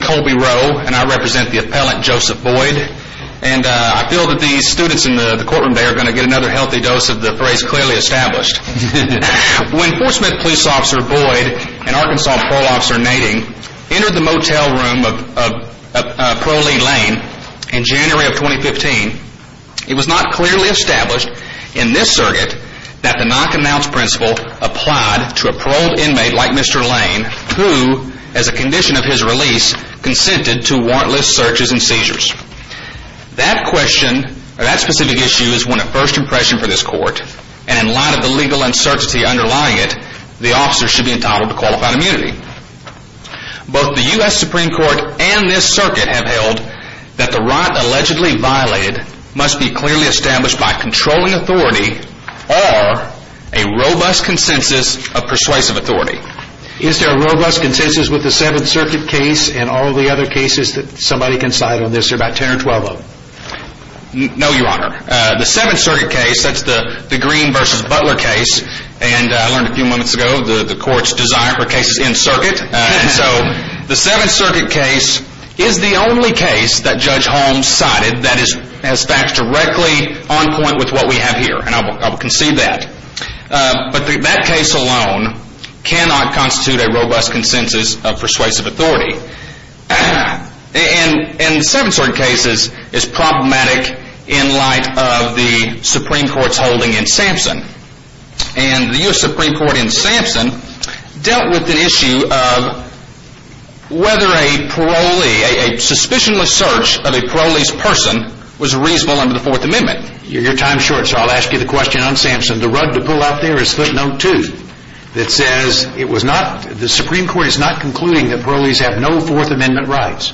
I'm Colby Rowe and I represent the appellant Joseph Boyd and I feel that these students in the courtroom today are going to get another healthy dose of the phrase clearly established. When Forcement Police Officer Boyd and Arkansas Parole Officer Nading entered the motel room of Parolee Lane in January of 2015, it was not clearly established in this circuit that the knock and bounce principle applied to a paroled inmate like Mr. Lane who, as a condition of his release, consented to warrantless searches and seizures. That question or that specific issue is one of first impression for this court and in light of the legal uncertainty underlying it, the officer should be entitled to qualified immunity. Both the U.S. Supreme Court and this circuit have held that the right allegedly violated must be clearly established by controlling authority or a robust consensus of persuasive authority. Is there a robust consensus with the 7th Circuit case and all the other cases that somebody can cite on this? There are about 10 or 12 of them. No, Your Honor. The 7th Circuit case, that's the Green v. Butler case, and I learned a few moments ago the court's desire for cases in circuit, so the 7th Circuit case is the only case that Judge Holmes cited that has facts directly on point with what we have here and I will concede that. But that case alone cannot constitute a robust consensus of persuasive authority. And the 7th Circuit case is problematic in light of the Supreme Court's holding in Sampson. And the U.S. Supreme Court in Sampson dealt with the issue of whether a parolee, a suspicionless search of a parolee's person was reasonable under the Fourth Amendment. Your time is short, so I'll ask you the question on Sampson. The rug to pull out there is footnote 2 that says it was not, the Supreme Court is not concluding that parolees have no Fourth Amendment rights.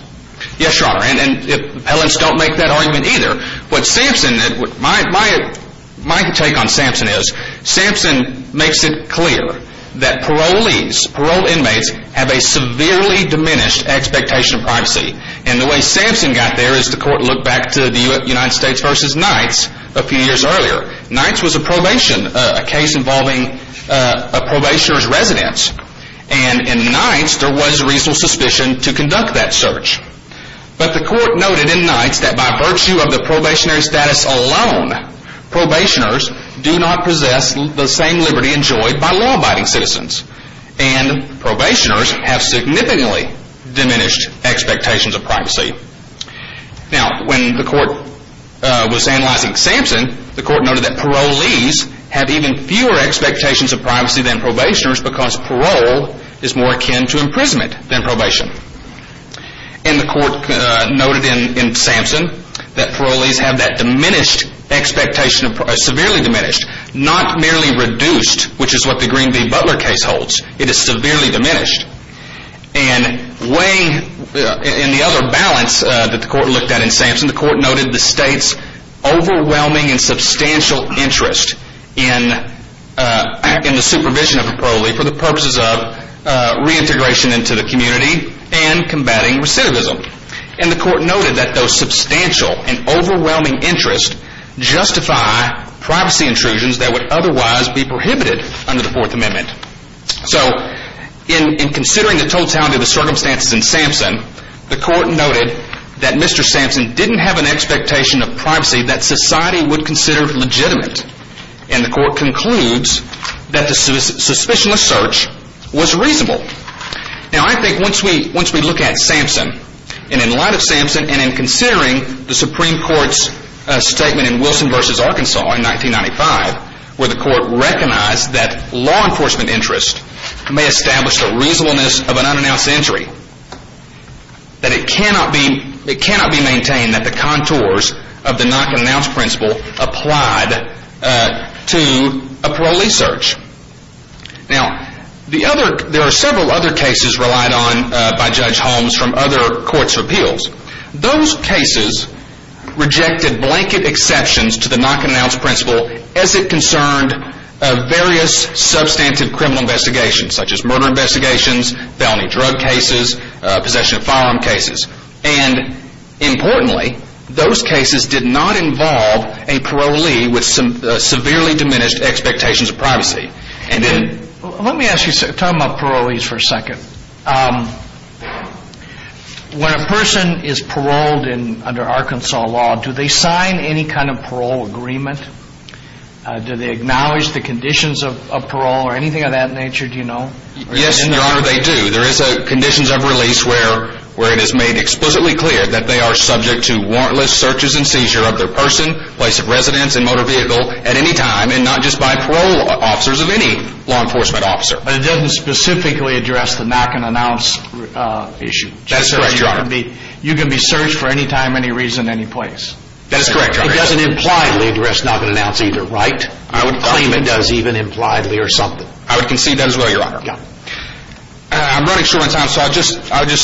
Yes, Your Honor, and appellants don't make that argument either. What Sampson, my take on Sampson is, Sampson makes it clear that parolees, parole inmates, have a severely diminished expectation of privacy. And the way Sampson got there is the court looked back to the United States v. Knights a few years earlier. Knights was a probation, a case involving a probationer's residence and in Knights there was reasonable suspicion to conduct that search. But the court noted in Knights that by virtue of the probationary status alone, probationers do not possess the same liberty enjoyed by law-abiding citizens. And probationers have significantly diminished expectations of privacy. Now, when the court was analyzing Sampson, the court noted that parolees have even fewer expectations of privacy than probationers because parole is more akin to imprisonment than probation. And the court noted in Sampson that parolees have that diminished expectation, severely diminished, not merely reduced, which in the other balance that the court looked at in Sampson, the court noted the state's overwhelming and substantial interest in the supervision of a parolee for the purposes of reintegration into the community and combating recidivism. And the court noted that those substantial and overwhelming interest justify privacy intrusions that would otherwise be in Sampson, the court noted that Mr. Sampson didn't have an expectation of privacy that society would consider legitimate. And the court concludes that the suspicionless search was reasonable. Now I think once we look at Sampson and in light of Sampson and in considering the Supreme Court's statement in Wilson v. Arkansas in 1995 where the court recognized that law enforcement interest may establish the reasonableness of an unannounced entry, that it cannot be maintained that the contours of the not-to-be-announced principle applied to a parolee search. Now there are several other cases relied on by Judge Holmes from other courts' appeals. Those cases rejected blanket exceptions to the not-to-be-announced principle as it concerned various substantive criminal investigations such as murder investigations, felony drug cases, possession of firearm cases. And importantly, those cases did not involve a parolee with severely diminished expectations of privacy. Let me talk about parolees for a second. When a person is paroled under Arkansas law, do they sign any kind of parole agreement? Do they acknowledge the conditions of parole or anything of that nature, do you know? Yes, Your Honor, they do. There is a conditions of release where it is made explicitly clear that they are subject to warrantless searches and seizure of their person, place of residence, and motor vehicle at any time and not just by parole officers of any law enforcement officer. But it doesn't specifically address the not-to-be-announced issue. That's right, Your Honor. You can be searched for any time, any reason, any place. That is correct, Your Honor. It doesn't impliedly address not-to-be-announced either, right? I would claim it does even impliedly or something. I would concede that as well, Your Honor. I'm running short on time, so I'll just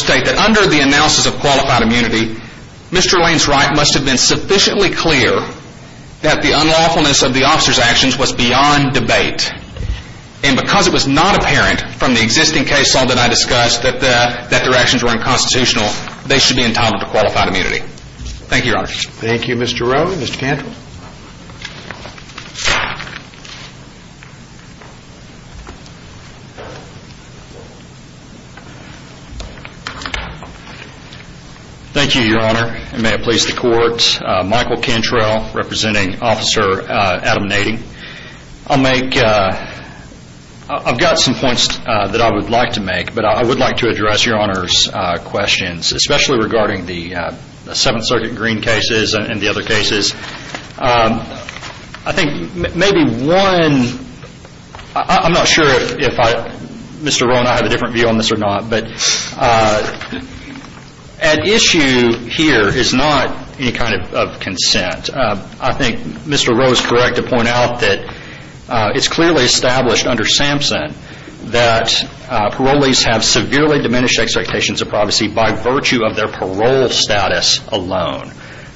state that under the analysis of qualified immunity, Mr. Lane's right must have been sufficiently clear that the unlawfulness of the officer's actions was beyond debate. And because it was not apparent from the existing case, all I discussed that their actions were unconstitutional, they should be entitled to qualified immunity. Thank you, Your Honor. Thank you, Mr. Rowe. Mr. Cantrell. Thank you, Your Honor. And may it please the Court, Michael Cantrell representing Officer Adam Nading. I've got some points that I would like to make, but I would like to address Your Honor's questions, especially regarding the Seventh Circuit Green cases and the other cases. I think maybe one, I'm not sure if Mr. Rowe and I have a different view on this or not, but at issue here is not any kind of consent. I think Mr. Rowe's correct in pointing out that it's clearly established under Sampson that parolees have severely diminished expectations of privacy by virtue of their parole status alone.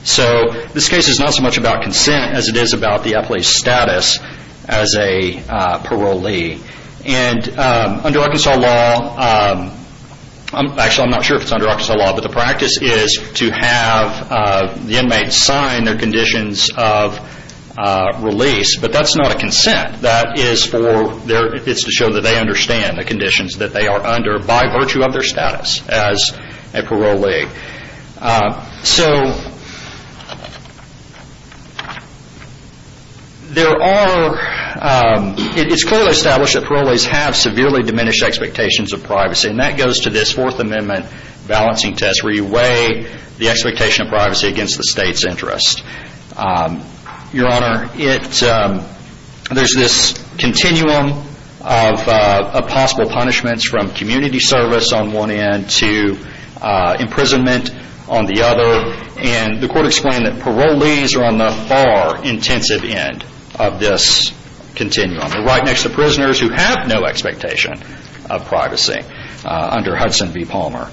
So this case is not so much about consent as it is about the appellee's status as a parolee. And under Arkansas law, actually I'm not sure if it's under Arkansas law, but the practice is to have the inmate sign their conditions of release, but that's not a consent. That is for their, it's to show that they understand the conditions that they are under by virtue of their status as a parolee. So there are, it's clearly established that parolees have severely diminished expectations of privacy, and that goes to this Fourth Amendment balancing test where you weigh the expectation of privacy against the state's interest. Your Honor, it, there's this continuum of possible punishments from community service on one end to imprisonment on the other, and the court explained that parolees are on the far intensive end of this continuum. They're right next to prisoners who have no expectation of privacy under Hudson v. Palmer.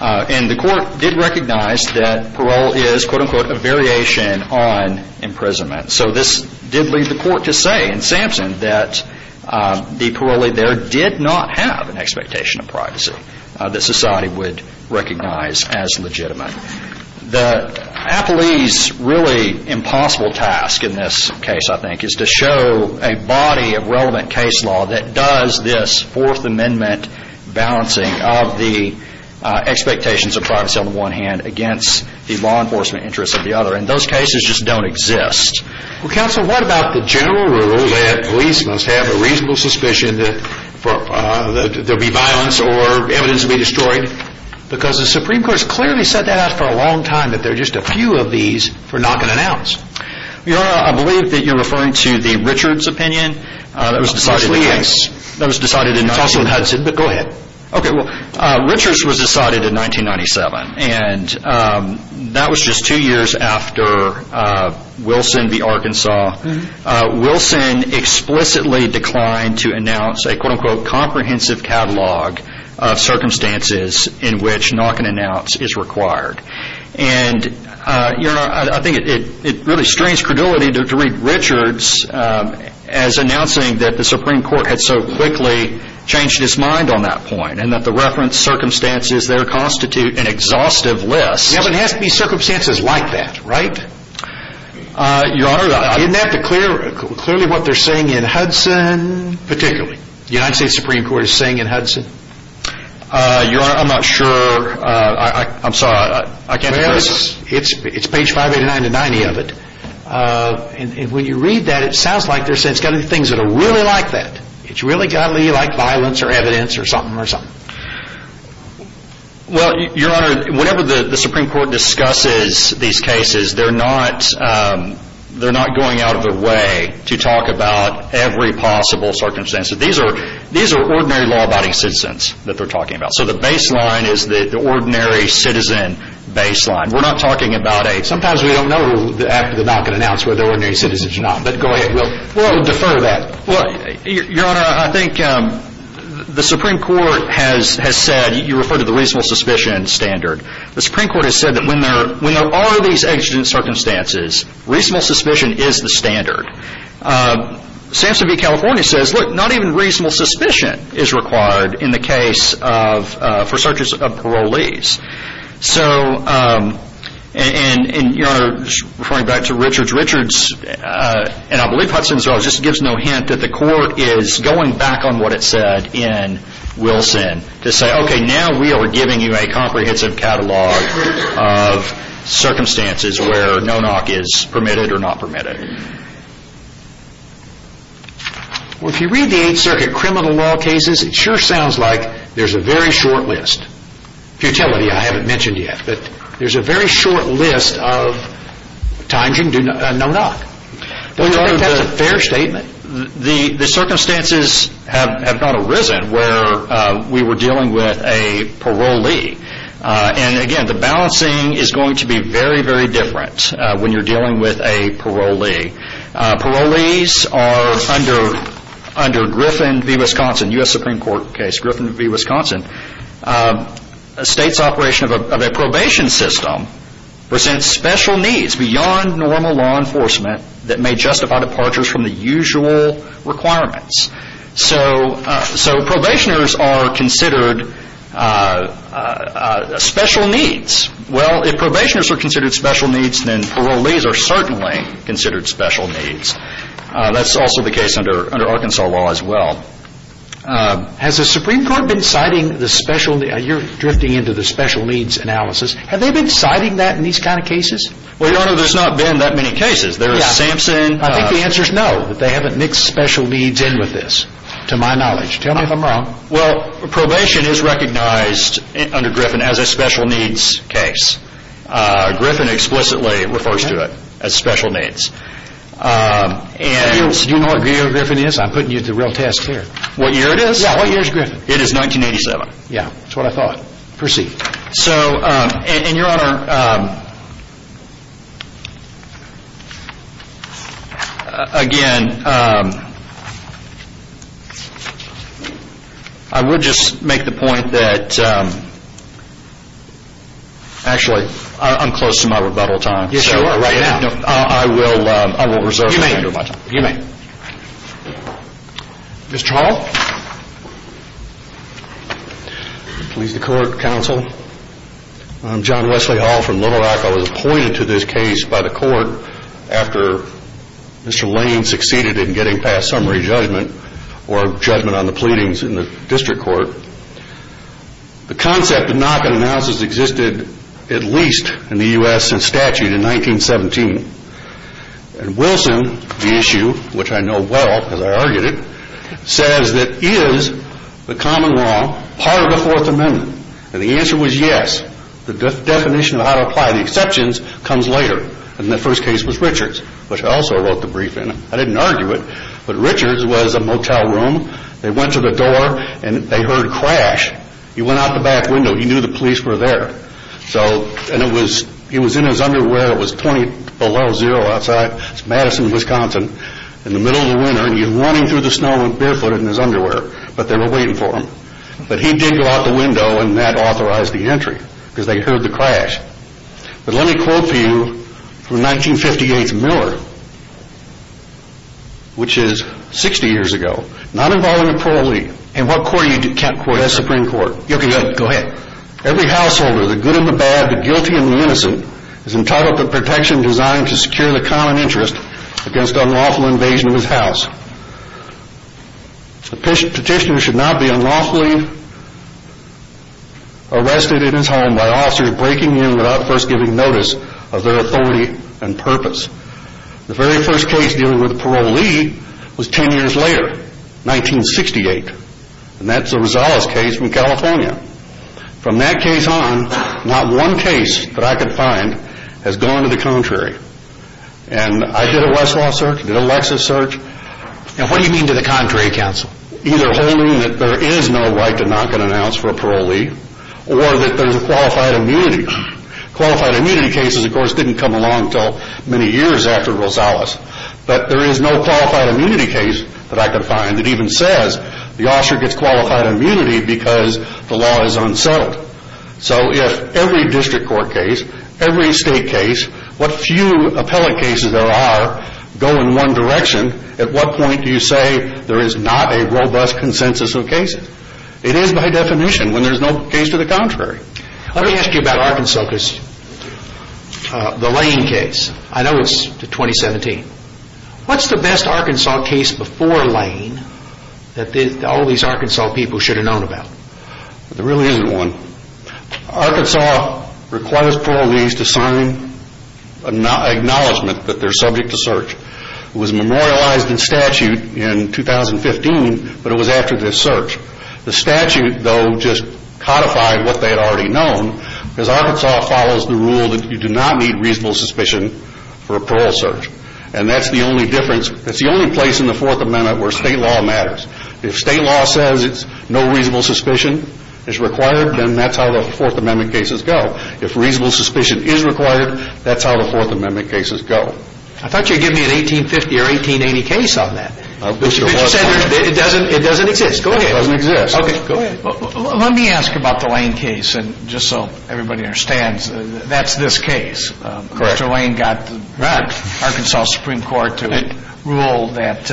And the court did recognize that parole is, quote unquote, a variation on imprisonment. So this did lead the court to say in Sampson that the parolee there did not have an expectation of privacy that society would recognize as legitimate. The appellee's really impossible task in this case, I think, is to show a body of relevant case law that does this Fourth Amendment balancing of the expectations of privacy on the one hand against the law enforcement interests of the other, and those cases just don't exist. Well, counsel, what about the general rule that police must have a reasonable suspicion that there'll be violence or evidence will be destroyed? Because the Supreme Court's clearly set that out for a long time that there are just a few of these for knock and announce. Your Honor, I believe that you're referring to the Richards opinion. That was decided in Hudson, but go ahead. Richards was decided in 1997, and that was just two years after Wilson v. Arkansas. Wilson explicitly declined to announce a, quote unquote, comprehensive catalog of circumstances in which knock and announce is required. And, Your Honor, I think it really strains credulity to read Richards as announcing that the Supreme Court had so quickly changed its mind on that point, and that the reference circumstances there constitute an exhaustive list. Yeah, but it has to be circumstances like that, right? Your Honor, I didn't have to clear, clearly what they're saying in Hudson, particularly. The United States Supreme Court is saying in Hudson? Your Honor, I'm not sure. I'm sorry. I can't... Well, it's page 589 to 90 of it. And when you read that, it sounds like they're saying it's got to be things that are really like that. It's really got to be like violence or evidence or something or something. Well, Your Honor, whenever the Supreme Court discusses these cases, they're not going out of their way to talk about every possible circumstance. These are ordinary law-abiding citizens that they're talking about. So the baseline is the ordinary citizen baseline. We're not talking about a... Sometimes we don't know after the knock and announce whether they're ordinary citizens or not. But go ahead. We'll defer that. Well, Your Honor, I think the Supreme Court has said, you referred to the reasonable suspicion standard. The Supreme Court has said that when there are these exigent circumstances, reasonable suspicion is the standard. Samson v. California says, look, not even reasonable suspicion is required in the case of...for searches of parolees. So, and Your Honor, just referring back to Richards, Richards and I believe Hudson as well, just gives no hint that the court is going back on what it said in Wilson to say, okay, now we are giving you a comprehensive catalog of circumstances where no knock is permitted or not permitted. Well, if you read the Eighth Circuit criminal law cases, it sure sounds like there's a very short list. Futility, I haven't mentioned yet, but there's a very short list of times you can do no knock. Well, Your Honor, that's a fair statement. The circumstances have not arisen where we were dealing with a parolee. And again, the circumstances are very different when you're dealing with a parolee. Parolees are under Griffin v. Wisconsin, U.S. Supreme Court case, Griffin v. Wisconsin, a state's operation of a probation system presents special needs beyond normal law enforcement that may justify departures from the usual requirements. So probationers are considered special needs. Well, if probationers are considered special needs, then parolees are certainly considered special needs. That's also the case under Arkansas law as well. Has the Supreme Court been citing the special, you're drifting into the special needs analysis, have they been citing that in these kind of cases? Well, Your Honor, there's not been that many cases. There's Samson. I think the answer is no, that they haven't mixed special needs in with this, to my knowledge. Tell me if I'm wrong. Well, probation is recognized under Griffin as a special needs case. Griffin explicitly refers to it as special needs. Do you know what year Griffin is? I'm putting you to the real test here. What year it is? Yeah, what year is Griffin? It is 1987. Yeah, that's what I thought. Perceived. So, and Your Honor, again, I would just make the point that, actually, I'm close to my rebuttal time. Yes, you are. Right now. You may. You may. Mr. Hall? Please, the court, counsel. I'm John Wesley Hall from Little Rock. I was appointed to this case by the court after Mr. Lane succeeded in getting past summary judgment or judgment on the pleadings in the district court. The concept of knock-on analysis existed at least in the U.S. since statute in 1917. And Wilson, the issue, which I know well because I argued it, says that is the common law part of the Fourth Amendment? And the answer was yes. The definition of how to apply the exceptions comes later. And the first case was Richards, which I also wrote the brief in. I didn't argue it, but Richards was a motel room. They went to the door and they heard a crash. He went out the back window. He knew the police were there. He was in his underwear. It was 20 below zero outside. It's Madison, Wisconsin. In the middle of the winter. He was running through the snow barefooted in his underwear. But they were waiting for him. But he did go out the window and that authorized the entry because they heard the crash. But let me quote for you from 1958's Miller, which is 60 years ago, not involving the parolee. And what court are you in? Kent Court. Yes, Supreme Court. Go ahead. Every householder, the good and the bad, the guilty and the innocent, is entitled to protection designed to secure the common interest against unlawful invasion of his house. A petitioner should not be unlawfully arrested in his home by officers breaking in without first giving notice of their authority and purpose. The very first case dealing with a parolee was 10 years later, 1968. And that's a Rosales case from California. From that case on, not one case that I could find has gone to the contrary. And I did a Westlaw search. I did a Lexus search. And what do you mean to the contrary counsel? Either holding that there is no right to knock an ounce for a parolee or that there's a qualified immunity. Qualified immunity cases, of course, didn't come along until many years after Rosales. But there is no qualified immunity case that I could find that even says the officer gets a qualified immunity because the law is unsettled. So if every district court case, every state case, what few appellate cases there are, go in one direction, at what point do you say there is not a robust consensus of cases? It is by definition when there's no case to the contrary. Let me ask you about Arkansas, because the Lane case. I know it's 2017. What's the best Arkansas case before Lane that all these Arkansas people should have known about? There really isn't one. Arkansas requires parolees to sign an acknowledgment that they're subject to search. It was memorialized in statute in 2015, but it was after the search. The statute, though, just codified what they had already known, because Arkansas follows the rule that you do not need reasonable suspicion for a parole search. And that's the only difference, that's the only place in the Fourth Amendment where state law matters. If state law says it's no reasonable suspicion is required, then that's how the Fourth Amendment cases go. If reasonable suspicion is required, that's how the Fourth Amendment cases go. I thought you were giving me an 1850 or 1880 case on that. Mr. Wessler. But you said it doesn't exist. Go ahead. It doesn't exist. Okay. Go ahead. Let me ask about the Lane case, just so everybody understands. That's this case. Correct. Mr. Lane got the Arkansas Supreme Court to rule that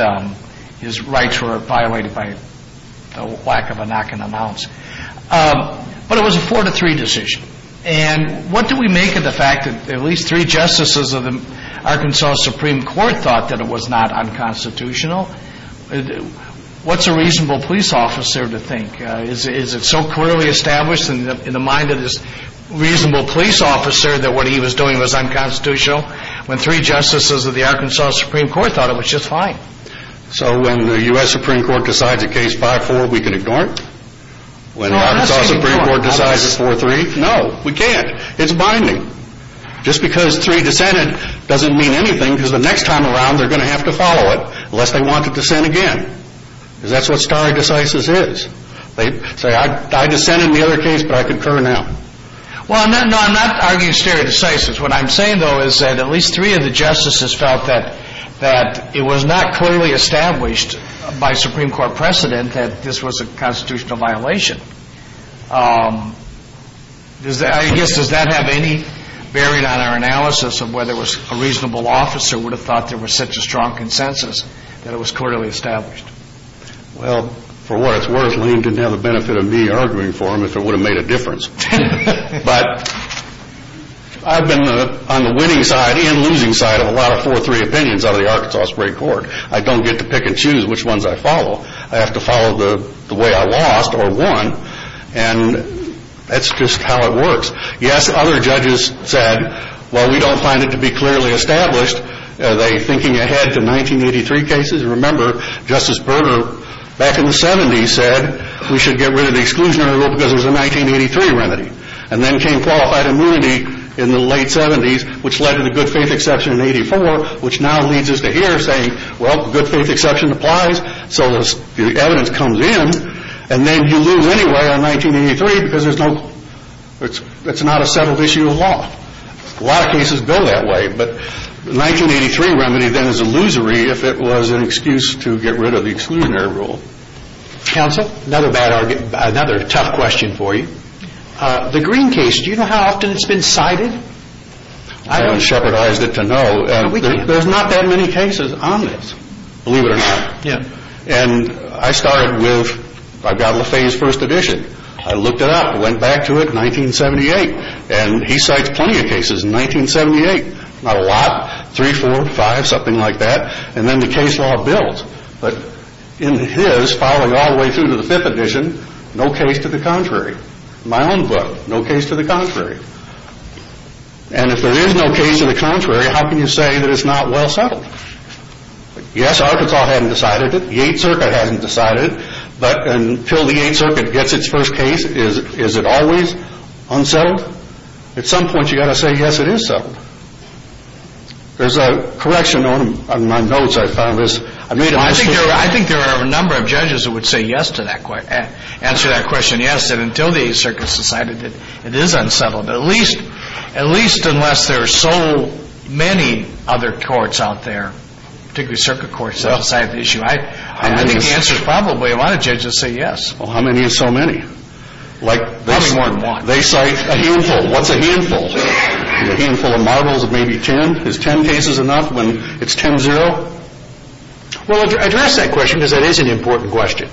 his rights were violated by the lack of a knock and announce. But it was a four to three decision. And what do we make of the fact that at least three justices of the Arkansas Supreme Court thought that it was not unconstitutional? What's a reasonable police officer to think? Is it so clearly established in the mind of this reasonable police officer that what he was doing was unconstitutional? When three justices of the Arkansas Supreme Court thought it was just fine. So when the U.S. Supreme Court decides a case 5-4, we can ignore it? No, that's the important. When the Arkansas Supreme Court decides it's 4-3? No, we can't. It's binding. Just because three dissented doesn't mean anything, because the next time around they're going to have to follow it, unless they want to dissent again. Because that's what stare decisis is. They say, I dissented in the other case, but I concur now. Well, no, I'm not arguing stare decisis. What I'm saying, though, is that at least three of the justices felt that it was not clearly established by Supreme Court precedent that this was a constitutional violation. I guess, does that have any bearing on our analysis of whether a reasonable officer would have thought there was such a strong consensus that it was clearly established? Well, for what it's worth, Lane didn't have the benefit of me arguing for him if it would have made a difference. But I've been on the winning side and losing side of a lot of 4-3 opinions out of the Arkansas Supreme Court. I don't get to pick and choose which ones I follow. I have to follow the way I lost or won, and that's just how it works. Yes, other judges said, well, we don't find it to be clearly established. Are they thinking ahead to 1983 cases? Remember, Justice Berger, back in the 70s, said we should get rid of the exclusionary rule because it was a 1983 remedy. And then came qualified immunity in the late 70s, which led to the good faith exception in 84, which now leads us to here saying, well, good faith exception applies, so the evidence comes in, and then you lose anyway on 1983 because it's not a settled issue of law. A lot of cases go that way. But the 1983 remedy then is illusory if it was an excuse to get rid of the exclusionary rule. Counsel, another tough question for you. The Green case, do you know how often it's been cited? I haven't shepherdized it to know. There's not that many cases on this, believe it or not. And I started with, I got Le Fay's first edition. I looked it up, went back to it, 1978. And he cites plenty of cases in 1978. Not a lot. Three, four, five, something like that. And then the case law builds. But in his, following all the way through to the fifth edition, no case to the contrary. In my own book, no case to the contrary. And if there is no case to the contrary, how can you say that it's not well settled? Yes, Arkansas hadn't decided it. The Eighth Circuit hadn't decided it. But until the Eighth Circuit gets its first case, is it always unsettled? At some point you've got to say, yes, it is settled. There's a correction on my notes I found. I made a mistake. I think there are a number of judges who would say yes to that question, answer that question, yes, until the Eighth Circuit has decided that it is unsettled. At least unless there are so many other courts out there, particularly circuit courts, that have decided the issue. I think the answer is probably a lot of judges say yes. Well, how many is so many? Probably more than one. They cite a handful. What's a handful? A handful of marbles of maybe ten. Is ten cases enough when it's ten zero? Well, address that question because that is an important question.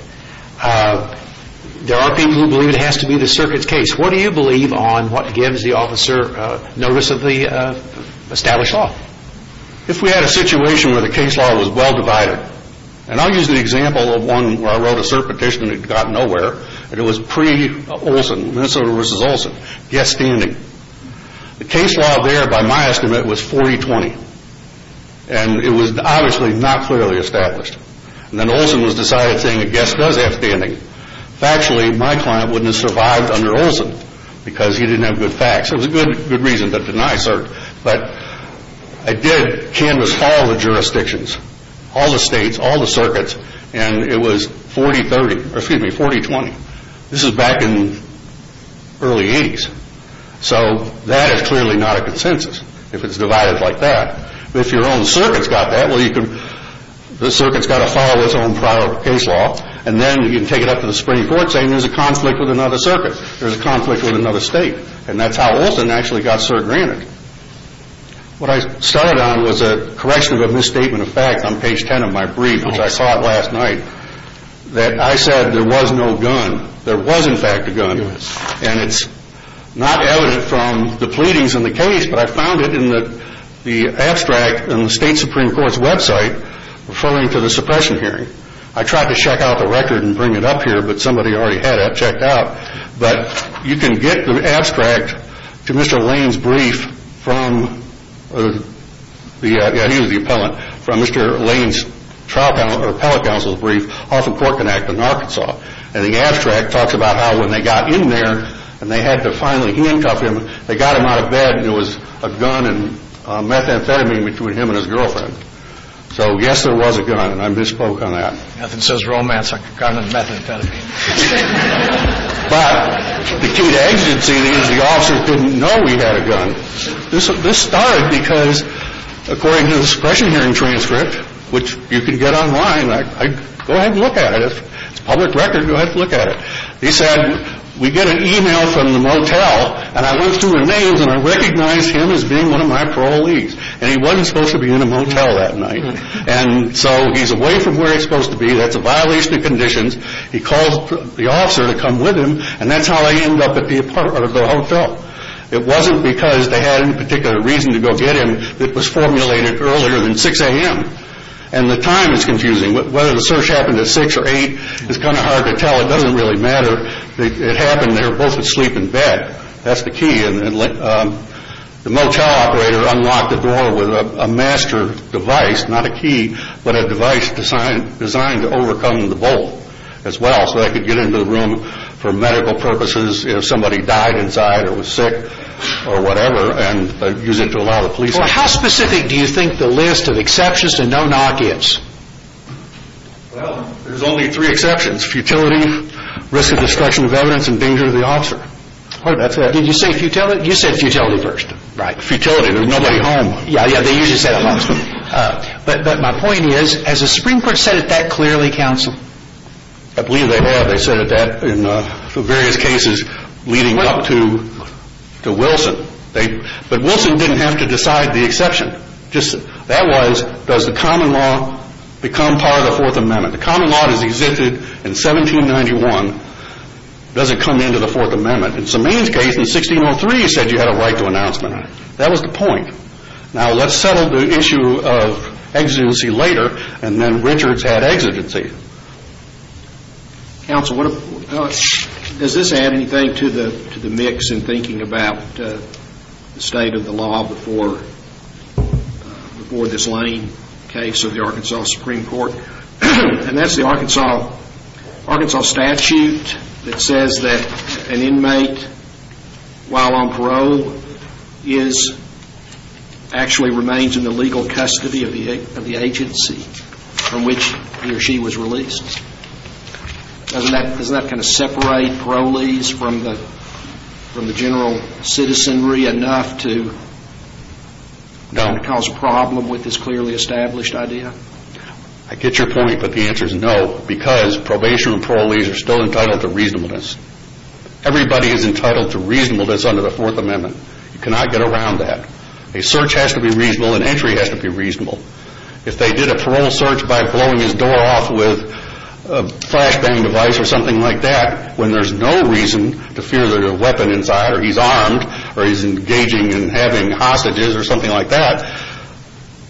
There are people who believe it has to be the circuit's case. What do you believe on what gives the officer notice of the established law? If we had a situation where the case law was well divided, and I'll use the example of one where I wrote a cert petition and it got nowhere, and it was pre-Olson, Minnesota v. Olson, guest standing. The case law there by my estimate was 40-20, and it was obviously not clearly established. And then Olson was decided saying a guest does have standing. Factually, my client wouldn't have survived under Olson because he didn't have good facts. It was a good reason, but didn't I assert. But I did canvas all the jurisdictions, all the states, all the circuits, and it was 40-20. This is back in the early 80s. So that is clearly not a consensus if it's divided like that. But if your own circuit's got that, the circuit's got to follow its own case law, and then you can take it up to the Supreme Court saying there's a conflict with another state. And that's how Olson actually got cert granted. What I started on was a correction of a misstatement of facts on page 10 of my brief, which I saw last night, that I said there was no gun. There was, in fact, a gun. And it's not evident from the pleadings in the case, but I found it in the abstract in the state Supreme Court's website referring to the suppression hearing. I tried to check out the record and bring it up here, but somebody already had it checked out. But you can get the abstract to Mr. Lane's brief from, yeah, he was the appellant, from Mr. Lane's trial panel, appellate counsel's brief off of Cork and Act in Arkansas. And the abstract talks about how when they got in there and they had to finally handcuff him, they got him out of bed and there was a gun and methamphetamine between him and his girlfriend. So yes, there was a gun, and I misspoke on that. Nothing says romance like a gun and methamphetamine. But the key to exigency is the officer didn't know he had a gun. This started because according to the suppression hearing transcript, which you can get online, go ahead and look at it. If it's public record, go ahead and look at it. He said, we get an email from the motel and I went through the mail and I recognized him as being one of my parolees. And he wasn't away from where he was supposed to be. That's a violation of conditions. He called the officer to come with him, and that's how I ended up at the hotel. It wasn't because they had any particular reason to go get him. It was formulated earlier than 6 a.m. And the time is confusing. Whether the search happened at 6 or 8 is kind of hard to tell. It doesn't really matter. It happened they were both asleep in bed. That's the key. The motel operator unlocked the door with a master device, not a key, but a device designed to overcome the bolt as well so they could get into the room for medical purposes if somebody died inside or was sick or whatever and use it to allow the police in. How specific do you think the list of exceptions to no-knock is? Well, there's only three exceptions. Futility, risk of destruction of evidence, and danger of the officer. That's it. Did you say futility? You said futility first. Right. Futility, there's nobody home. Yeah, yeah, they usually say that. But my point is, has the Supreme Court said it that clearly, counsel? I believe they have. They said it that in various cases leading up to Wilson. But Wilson didn't have to decide the exception. That was, does the common law become part of the Fourth Amendment? The common law that was existed in 1791 doesn't come into the Fourth Amendment. That was the point. Now, let's settle the issue of exigency later and then Richards had exigency. Counsel, does this add anything to the mix in thinking about the state of the law before this Lane case of the Arkansas Supreme Court? And that's the Arkansas statute that says that an inmate, while on parole, is, actually remains in the legal custody of the agency from which he or she was released. Doesn't that kind of separate parolees from the general citizenry enough to cause a problem with this clearly established idea? I get your point, but the answer is no. Because probation and parolees are still entitled to reasonableness. Everybody is entitled to reasonableness under the Fourth Amendment. You cannot get around that. A search has to be reasonable. An entry has to be reasonable. If they did a parole search by blowing his door off with a flashbang device or something like that, when there's no reason to fear that a weapon inside or he's armed or he's engaging in having hostages or something like that,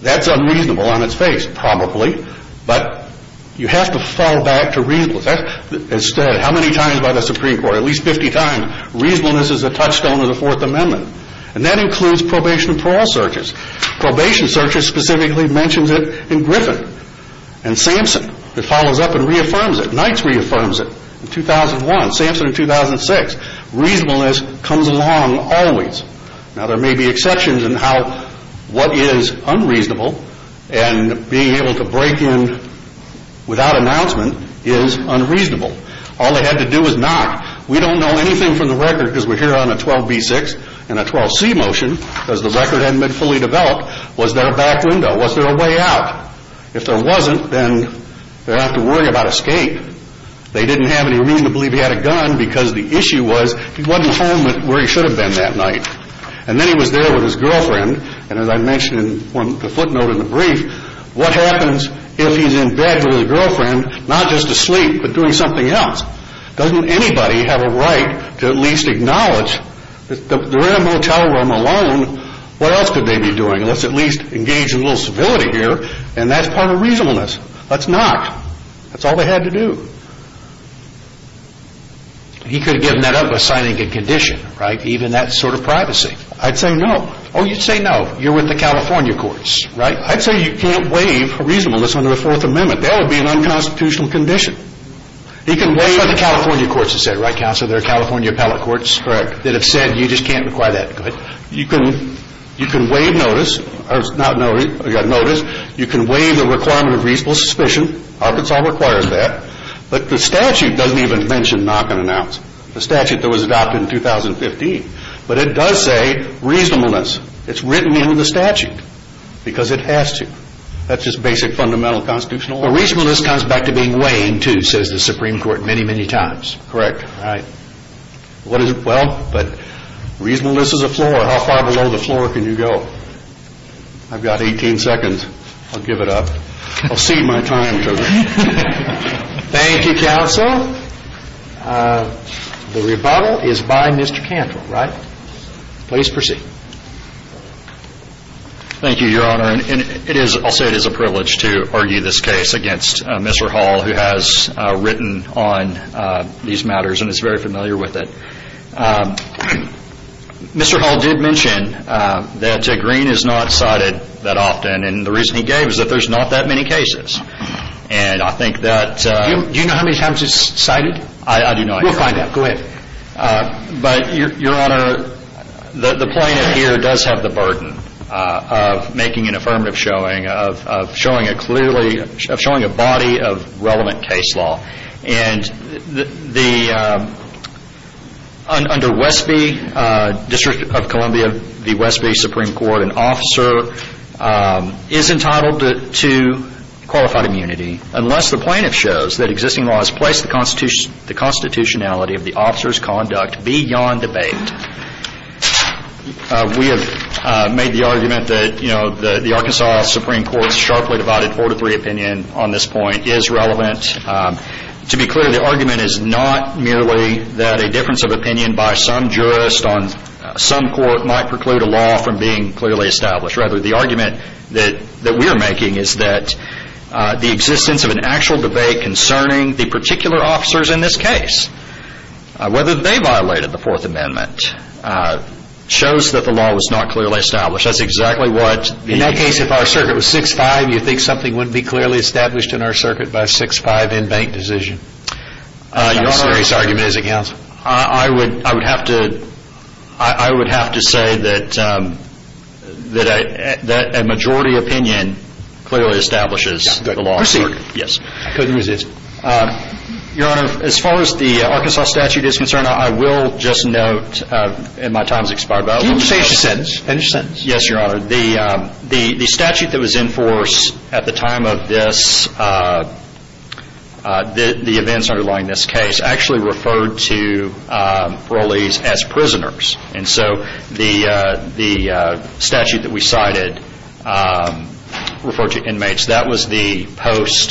that's unreasonable on its face, probably. But you have to fall back to reasonableness. Instead, how many times by the Supreme Court, at least 50 times, reasonableness is a touchstone of the Fourth Amendment. And that includes probation and parole searches. Probation searches specifically mentions it in Griffin and Samson. It follows up and reaffirms it. Knights reaffirms it in 2001, Samson in 2006. Reasonableness comes along always. Now there may be exceptions in how what is unreasonable and being able to break in without announcement is unreasonable. All they had to do was knock. We don't know anything from the record because we're here on a 12B6 and a 12C motion because the record hadn't been fully developed. Was there a back window? Was there a way out? If there wasn't, then they'd have to worry about escape. They didn't have any reason to believe he had a gun because the issue was he wasn't home where he should have been that night. And then he was there with his girlfriend. And as I mentioned in the footnote in the brief, what happens if he's in bed with his girlfriend, not just asleep but doing something else? Doesn't anybody have a right to at least acknowledge that they're in a motel room alone? What else could they be doing? Let's at least engage in a little civility here. And that's part of reasonableness. Let's knock. That's all they had to do. He could have given that up by signing a condition, even that sort of privacy. I'd say no. Oh, you'd say no. You're with the California courts, right? I'd say you can't waive reasonableness under the Fourth Amendment. That would be an unconstitutional condition. He can waive... That's what the California courts have said, right, Counselor? They're California appellate courts that have said you just can't require that. Go ahead. You can waive notice. You can waive the requirement of reasonable suspicion. Arkansas requires that. But the statute doesn't even mention knock and announce. The statute that was adopted in 2015. But it does say reasonableness. It's written in the statute because it has to. That's just basic fundamental constitutional order. Well, reasonableness comes back to being weighing, too, says the Supreme Court many, many times. Correct. Well, but reasonableness is a floor. How far below the floor can you go? I've got 18 seconds. I'll give it up. I'll cede my time to them. Thank you, Counsel. The rebuttal is by Mr. Cantrell, right? Please proceed. Thank you, Your Honor. And it is... I'll say it is a privilege to argue this case against Mr. Hall, who has written on these matters and is very familiar with it. Mr. Hall did mention that Tigreen is not cited that often. And the reason he gave is that there's not that many cases. And I think that... Do you know how many times he's cited? I do not. We'll find out. Go ahead. But, Your Honor, the plaintiff here does have the burden of making an affirmative showing, of showing a body of relevant case law. And under Westby, District of Columbia, the Westby Supreme Court, an officer is entitled to qualified immunity unless the plaintiff shows that existing law has placed the constitutionality of the officer's conduct beyond debate. We have made the argument that, you know, the Arkansas Supreme Court's sharply divided 4-3 opinion on this point is relevant. To be clear, the argument is not merely that a difference of preclude a law from being clearly established. Rather, the argument that we are making is that the existence of an actual debate concerning the particular officers in this case, whether they violated the Fourth Amendment, shows that the law was not clearly established. That's exactly what... In that case, if our circuit was 6-5, you think something wouldn't be clearly established in our circuit by a 6-5 in-bank decision? Your Honor, I would have to say that a majority opinion clearly establishes the law. Proceed. Your Honor, as far as the Arkansas statute is concerned, I will just note, and my time has expired, but... Can you just finish your sentence? Yes, Your Honor. The statute that was in force at the time of the events underlying this case actually referred to parolees as prisoners. And so the statute that we cited referred to inmates. That was the post-events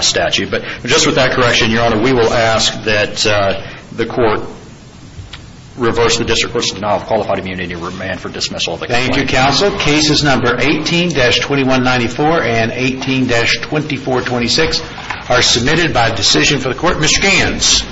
statute. But just with that correction, Your Honor, we will ask that the court reverse the district court's denial of qualified immunity and remand for dismissal. Thank you, counsel. Cases number 18-2194 and 18-2426 are submitted by decision for the court. Ms. Scans.